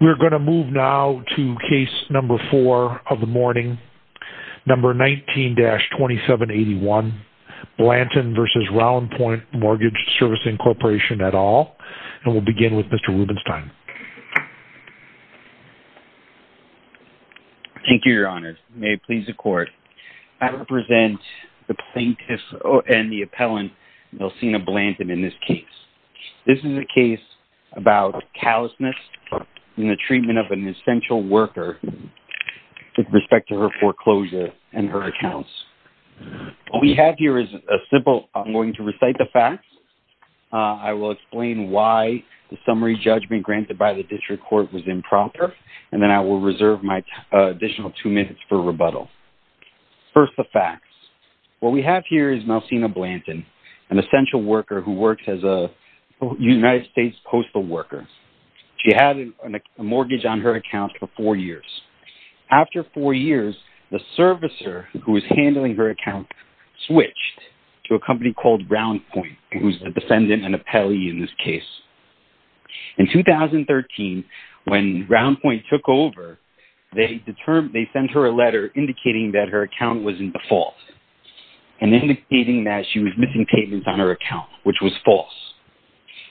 We're going to move now to case number four of the morning, number 19-2781, Blanton v. Roundpoint Mortgage Servicing Corporation et al. And we'll begin with Mr. Rubenstein. Thank you, Your Honor. May it please the Court. I represent the plaintiff and the appellant, Melcina Blanton, in this case. This is a case about callousness in the treatment of an essential worker with respect to her foreclosure and her accounts. What we have here is a simple – I'm going to recite the facts. I will explain why the summary judgment granted by the district court was improper, and then I will reserve my additional two minutes for rebuttal. First, the facts. What we have here is Melcina Blanton, an essential worker who works as a United States postal worker. She had a mortgage on her account for four years. After four years, the servicer who was handling her account switched to a company called Roundpoint, who is the defendant and appellee in this case. In 2013, when Roundpoint took over, they sent her a letter indicating that her account was in default and indicating that she was missing payments on her account, which was false.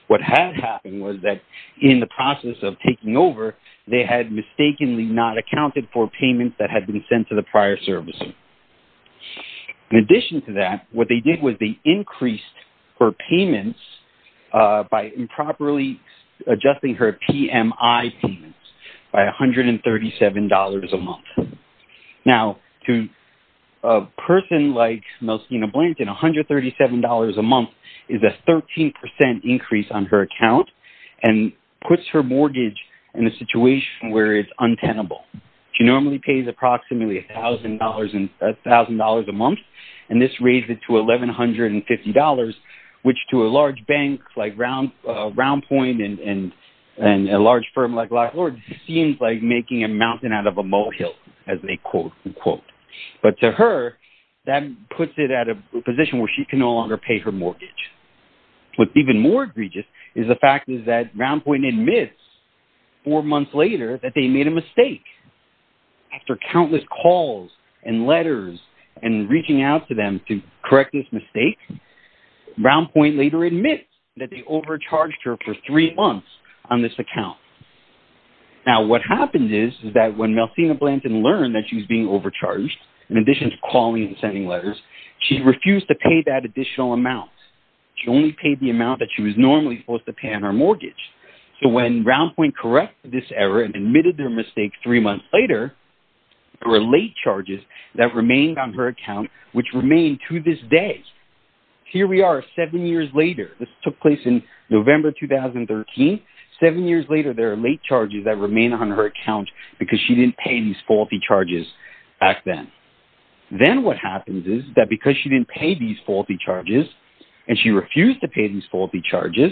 What had happened was that in the process of taking over, they had mistakenly not accounted for payments that had been sent to the prior servicer. In addition to that, what they did was they increased her payments by improperly adjusting her PMI payments by $137 a month. Now, to a person like Melcina Blanton, $137 a month is a 13% increase on her account and puts her mortgage in a situation where it's untenable. She normally pays approximately $1,000 a month, and this raised it to $1,150, which to a large bank like Roundpoint and a large firm like Lockwood seems like making a mountain out of a molehill, as they quote-unquote. But to her, that puts it at a position where she can no longer pay her mortgage. What's even more egregious is the fact that Roundpoint admits four months later that they made a mistake. After countless calls and letters and reaching out to them to correct this mistake, Roundpoint later admits that they overcharged her for three months on this account. Now, what happened is that when Melcina Blanton learned that she was being overcharged, in addition to calling and sending letters, she refused to pay that additional amount. She only paid the amount that she was normally supposed to pay on her mortgage. So when Roundpoint corrected this error and admitted their mistake three months later, there were late charges that remained on her account, which remain to this day. Here we are, seven years later. This took place in November 2013. Seven years later, there are late charges that remain on her account because she didn't pay these faulty charges back then. Then what happens is that because she didn't pay these faulty charges, and she refused to pay these faulty charges,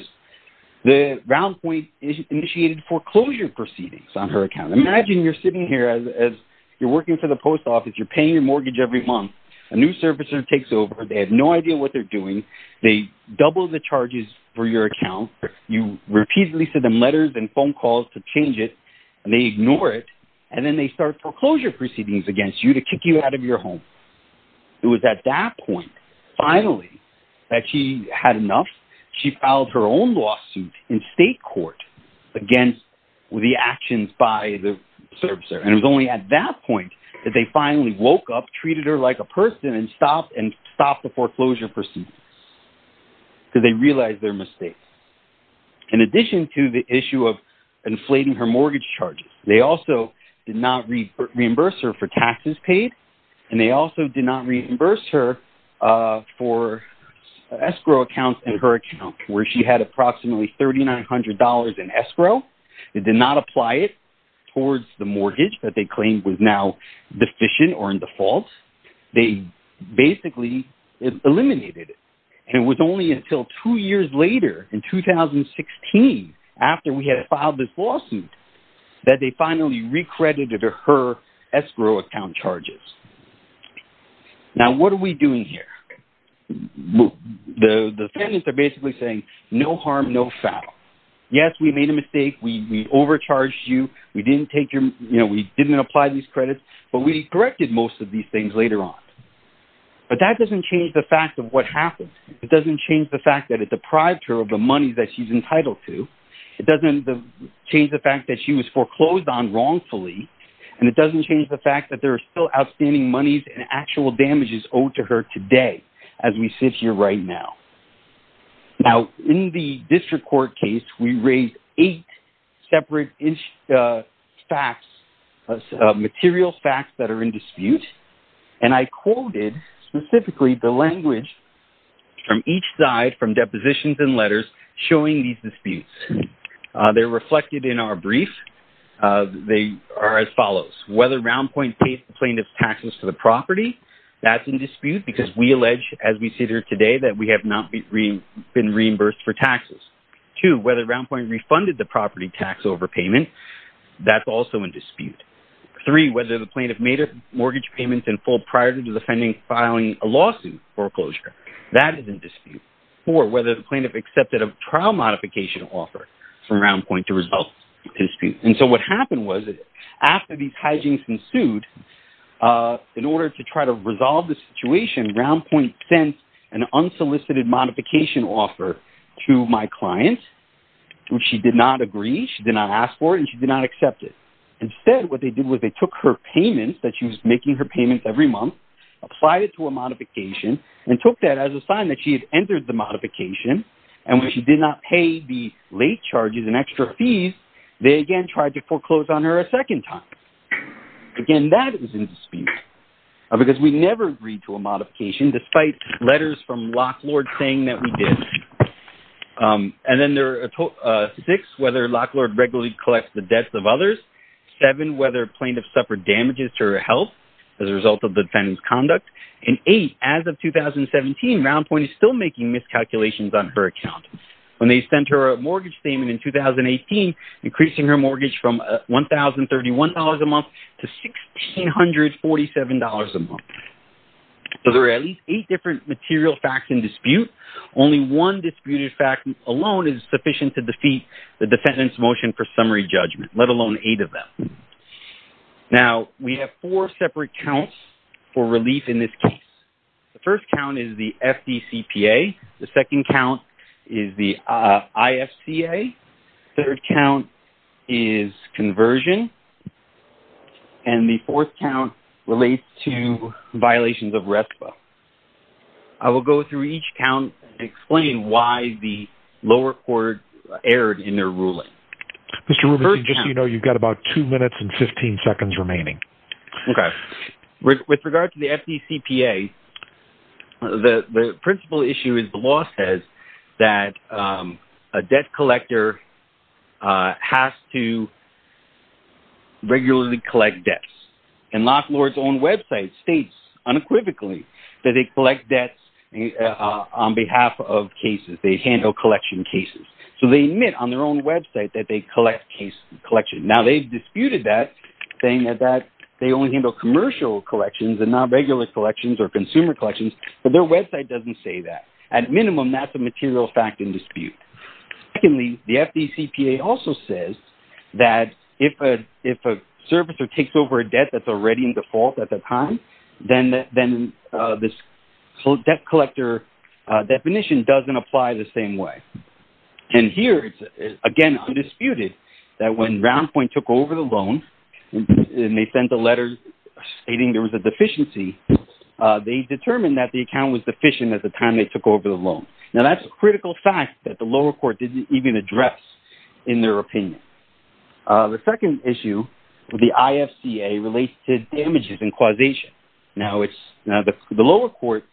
Roundpoint initiated foreclosure proceedings on her account. Imagine you're sitting here as you're working for the post office, you're paying your mortgage every month. A new servicer takes over. They have no idea what they're doing. They double the charges for your account. You repeatedly send them letters and phone calls to change it, and they ignore it. And then they start foreclosure proceedings against you to kick you out of your home. It was at that point, finally, that she had enough. She filed her own lawsuit in state court against the actions by the servicer. And it was only at that point that they finally woke up, treated her like a person, and stopped the foreclosure proceedings. Because they realized their mistake. In addition to the issue of inflating her mortgage charges, they also did not reimburse her for taxes paid. And they also did not reimburse her for escrow accounts in her account, where she had approximately $3,900 in escrow. They did not apply it towards the mortgage that they claimed was now deficient or in default. They basically eliminated it. And it was only until two years later, in 2016, after we had filed this lawsuit, that they finally recredited her escrow account charges. Now, what are we doing here? The defendants are basically saying, no harm, no foul. Yes, we made a mistake. We overcharged you. We didn't apply these credits. But we corrected most of these things later on. But that doesn't change the fact of what happened. It doesn't change the fact that it deprived her of the money that she's entitled to. It doesn't change the fact that she was foreclosed on wrongfully. And it doesn't change the fact that there are still outstanding monies and actual damages owed to her today, as we sit here right now. Now, in the district court case, we raised eight separate facts, material facts that are in dispute. And I quoted specifically the language from each side, from depositions and letters, showing these disputes. They're reflected in our brief. They are as follows. Whether Roundpoint pays the plaintiff's taxes to the property, that's in dispute, because we allege, as we sit here today, that we have not been reimbursed for taxes. Two, whether Roundpoint refunded the property tax overpayment, that's also in dispute. Three, whether the plaintiff made a mortgage payment in full prior to filing a lawsuit foreclosure, that is in dispute. Four, whether the plaintiff accepted a trial modification offer from Roundpoint to resolve the dispute. And so what happened was that after these hijinks ensued, in order to try to resolve the situation, Roundpoint sent an unsolicited modification offer to my client, which she did not agree, she did not ask for it, and she did not accept it. Instead, what they did was they took her payments, that she was making her payments every month, applied it to a modification, and took that as a sign that she had entered the modification, and when she did not pay the late charges and extra fees, they again tried to foreclose on her a second time. Again, that is in dispute, because we never agreed to a modification, despite letters from Locklord saying that we did. And then there are six, whether Locklord regularly collects the debts of others. Seven, whether plaintiff suffered damages to her health as a result of the defendant's conduct. And eight, as of 2017, Roundpoint is still making miscalculations on her account. When they sent her a mortgage payment in 2018, increasing her mortgage from $1,031 a month to $1,647 a month. So there are at least eight different material facts in dispute. Only one disputed fact alone is sufficient to defeat the defendant's motion for summary judgment, let alone eight of them. Now, we have four separate counts for relief in this case. The first count is the FDCPA. The second count is the IFCA. Third count is conversion. And the fourth count relates to violations of RESPA. I will go through each count and explain why the lower court erred in their ruling. Mr. Rubenstein, just so you know, you've got about two minutes and 15 seconds remaining. Okay. With regard to the FDCPA, the principal issue is the law says that a debt collector has to regularly collect debts. And Locklord's own website states unequivocally that they collect debts on behalf of cases. They handle collection cases. So they admit on their own website that they collect collection. Now, they've disputed that, saying that they only handle commercial collections and not regular collections or consumer collections. But their website doesn't say that. At minimum, that's a material fact in dispute. Secondly, the FDCPA also says that if a servicer takes over a debt that's already in default at the time, then this debt collector definition doesn't apply the same way. And here, again, it's undisputed that when Roundpoint took over the loan and they sent a letter stating there was a deficiency, they determined that the account was deficient at the time they took over the loan. Now, that's a critical fact that the lower court didn't even address in their opinion. The second issue with the IFCA relates to damages and causation. Now, the lower court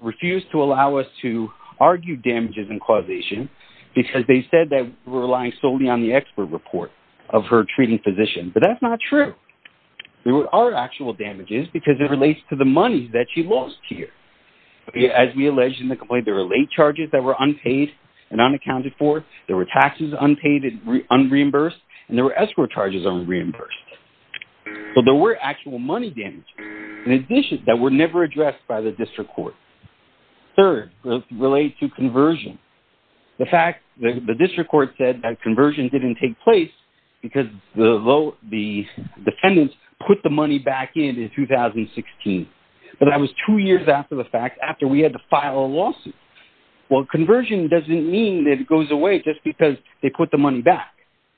refused to allow us to argue damages and causation because they said that we're relying solely on the expert report of her treating physician. But that's not true. There are actual damages because it relates to the money that she lost here. As we alleged in the complaint, there were late charges that were unpaid and unaccounted for. There were taxes unpaid and unreimbursed. And there were escrow charges unreimbursed. But there were actual money damages in addition that were never addressed by the district court. Third, it relates to conversion. The fact that the district court said that conversion didn't take place because the defendants put the money back in in 2016. But that was two years after the fact, after we had to file a lawsuit. Well, conversion doesn't mean that it goes away just because they put the money back.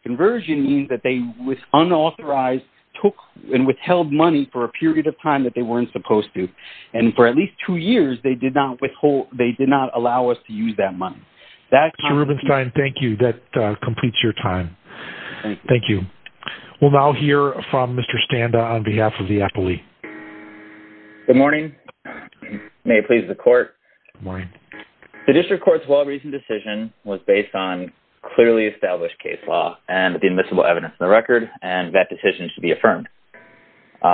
Conversion means that they was unauthorized, took and withheld money for a period of time that they weren't supposed to. And for at least two years, they did not allow us to use that money. Mr. Rubenstein, thank you. That completes your time. Thank you. Thank you. We'll now hear from Mr. Standa on behalf of the appellee. Good morning. May it please the court. Good morning. The district court's well-reasoned decision was based on clearly established case law and the admissible evidence in the record. And that decision should be affirmed.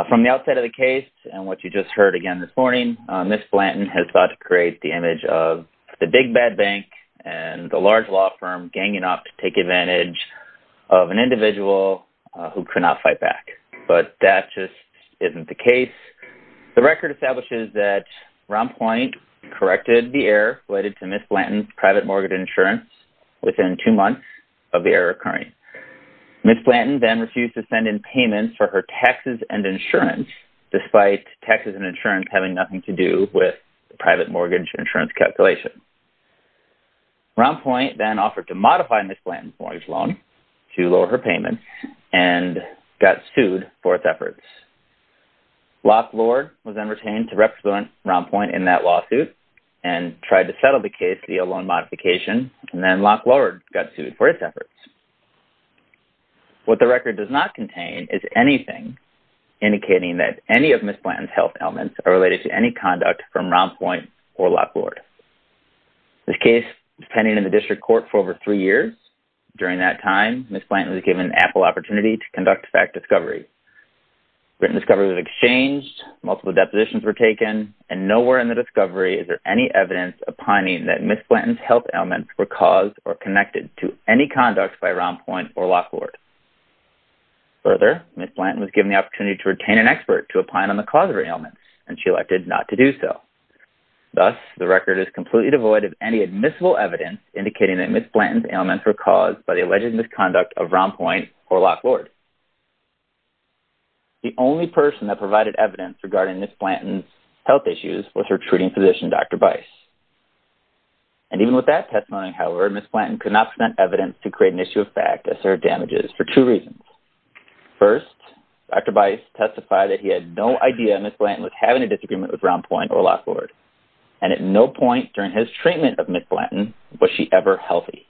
From the outset of the case and what you just heard again this morning, Ms. Blanton has thought to create the image of the big bad bank and the large law firm ganging up to take advantage of an individual who could not fight back. But that just isn't the case. The record establishes that Ron Point corrected the error related to Ms. Blanton's private mortgage insurance within two months of the error occurring. Ms. Blanton then refused to send in payments for her taxes and insurance despite taxes and insurance having nothing to do with the private mortgage insurance calculation. Ron Point then offered to modify Ms. Blanton's mortgage loan to lower her payments and got sued for its efforts. Lock Lord was then retained to represent Ron Point in that lawsuit and tried to settle the case via loan modification. And then Lock Lord got sued for its efforts. What the record does not contain is anything indicating that any of Ms. Blanton's health ailments are related to any conduct from Ron Point or Lock Lord. This case was pending in the district court for over three years. During that time, Ms. Blanton was given ample opportunity to conduct fact discovery. Written discovery was exchanged, multiple depositions were taken, and nowhere in the discovery is there any evidence opining that Ms. Blanton's health ailments were caused or connected to any conduct by Ron Point or Lock Lord. Further, Ms. Blanton was given the opportunity to retain an expert to opine on the cause of her ailments and she elected not to do so. Thus, the record is completely devoid of any admissible evidence indicating that Ms. Blanton's ailments were caused by the alleged misconduct of Ron Point or Lock Lord. The only person that provided evidence regarding Ms. Blanton's health issues was her treating physician, Dr. Bice. And even with that testimony, however, Ms. Blanton could not present evidence to create an issue of fact as to her damages for two reasons. First, Dr. Bice testified that he had no idea Ms. Blanton was having a disagreement with Ron Point or Lock Lord. And at no point during his treatment of Ms. Blanton was she ever healthy.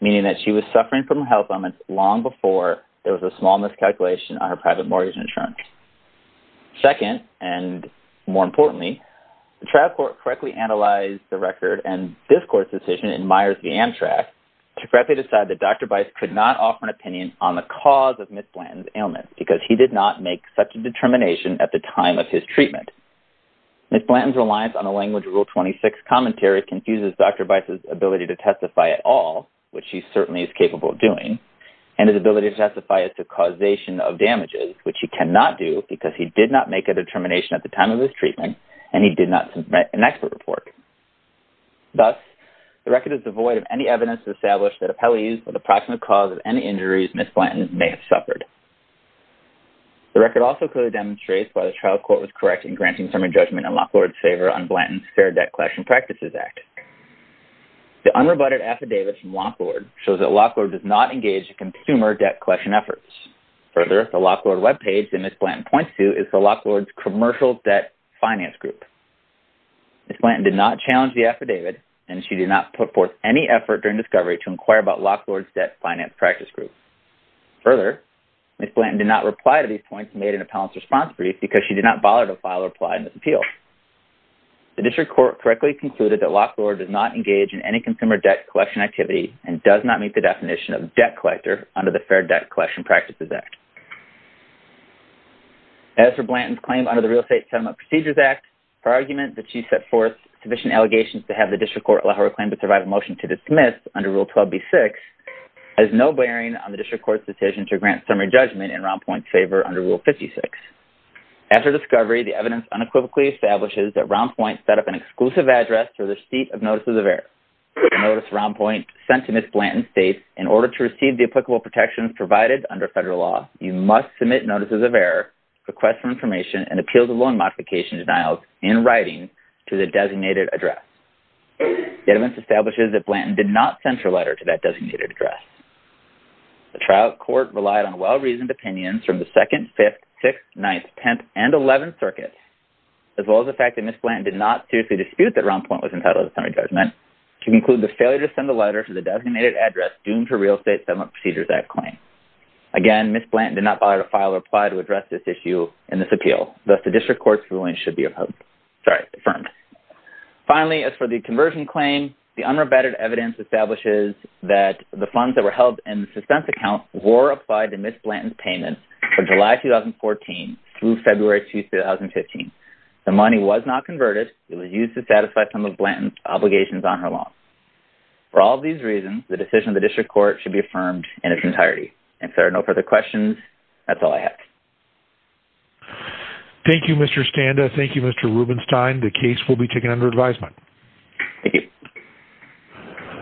Meaning that she was suffering from health ailments long before there was a small miscalculation on her private mortgage insurance. Second, and more importantly, the trial court correctly analyzed the record and this court's decision in Myers v. Amtrak to correctly decide that Dr. Bice could not offer an opinion on the cause of Ms. Blanton's ailments because he did not make such a determination at the time of his treatment. Ms. Blanton's reliance on a language of Rule 26 commentary confuses Dr. Bice's ability to testify at all, which he certainly is capable of doing, and his ability to testify as to causation of damages, which he cannot do because he did not make a determination at the time of his treatment and he did not submit an expert report. Thus, the record is devoid of any evidence to establish that appellees with approximate cause of any injuries Ms. Blanton may have suffered. The record also clearly demonstrates why the trial court was correct in granting summary judgment in Locke Lord's favor on Blanton's Fair Debt Collection Practices Act. The unrebutted affidavit from Locke Lord shows that Locke Lord does not engage in consumer debt collection efforts. Further, the Locke Lord webpage that Ms. Blanton points to is the Locke Lord's commercial debt finance group. Ms. Blanton did not challenge the affidavit and she did not put forth any effort during discovery to inquire about Locke Lord's debt finance practice group. Further, Ms. Blanton did not reply to these points and made an appellant's response brief because she did not bother to file a reply in this appeal. The district court correctly concluded that Locke Lord does not engage in any consumer debt collection activity and does not meet the definition of debt collector under the Fair Debt Collection Practices Act. As for Blanton's claim under the Real Estate Settlement Procedures Act, her argument that she set forth sufficient allegations to have the district court allow her claim to survive a motion to dismiss under Rule 12b-6 has no bearing on the district court's decision to grant summary judgment in Round Point's favor under Rule 56. After discovery, the evidence unequivocally establishes that Round Point set up an exclusive address for the receipt of notices of error. In order to receive the applicable protections provided under federal law, you must submit notices of error, request for information, and appeals of loan modification denials in writing to the designated address. The evidence establishes that Blanton did not send her letter to that designated address. The trial court relied on well-reasoned opinions from the 2nd, 5th, 6th, 9th, 10th, and 11th circuits, as well as the fact that Ms. Blanton did not seriously dispute that Round Point was entitled to summary judgment, to conclude the failure to send the letter to the designated address doomed her Real Estate Settlement Procedures Act claim. Again, Ms. Blanton did not file or apply to address this issue in this appeal, thus the district court's ruling should be affirmed. Finally, as for the conversion claim, the unrebetted evidence establishes that the funds that were held in the suspense account were applied to Ms. Blanton's payments from July 2014 through February 2015. The money was not converted. It was used to satisfy some of Blanton's obligations on her loan. For all of these reasons, the decision of the district court should be affirmed in its entirety. If there are no further questions, that's all I have. Thank you, Mr. Standa. Thank you, Mr. Rubenstein. The case will be taken under advisement.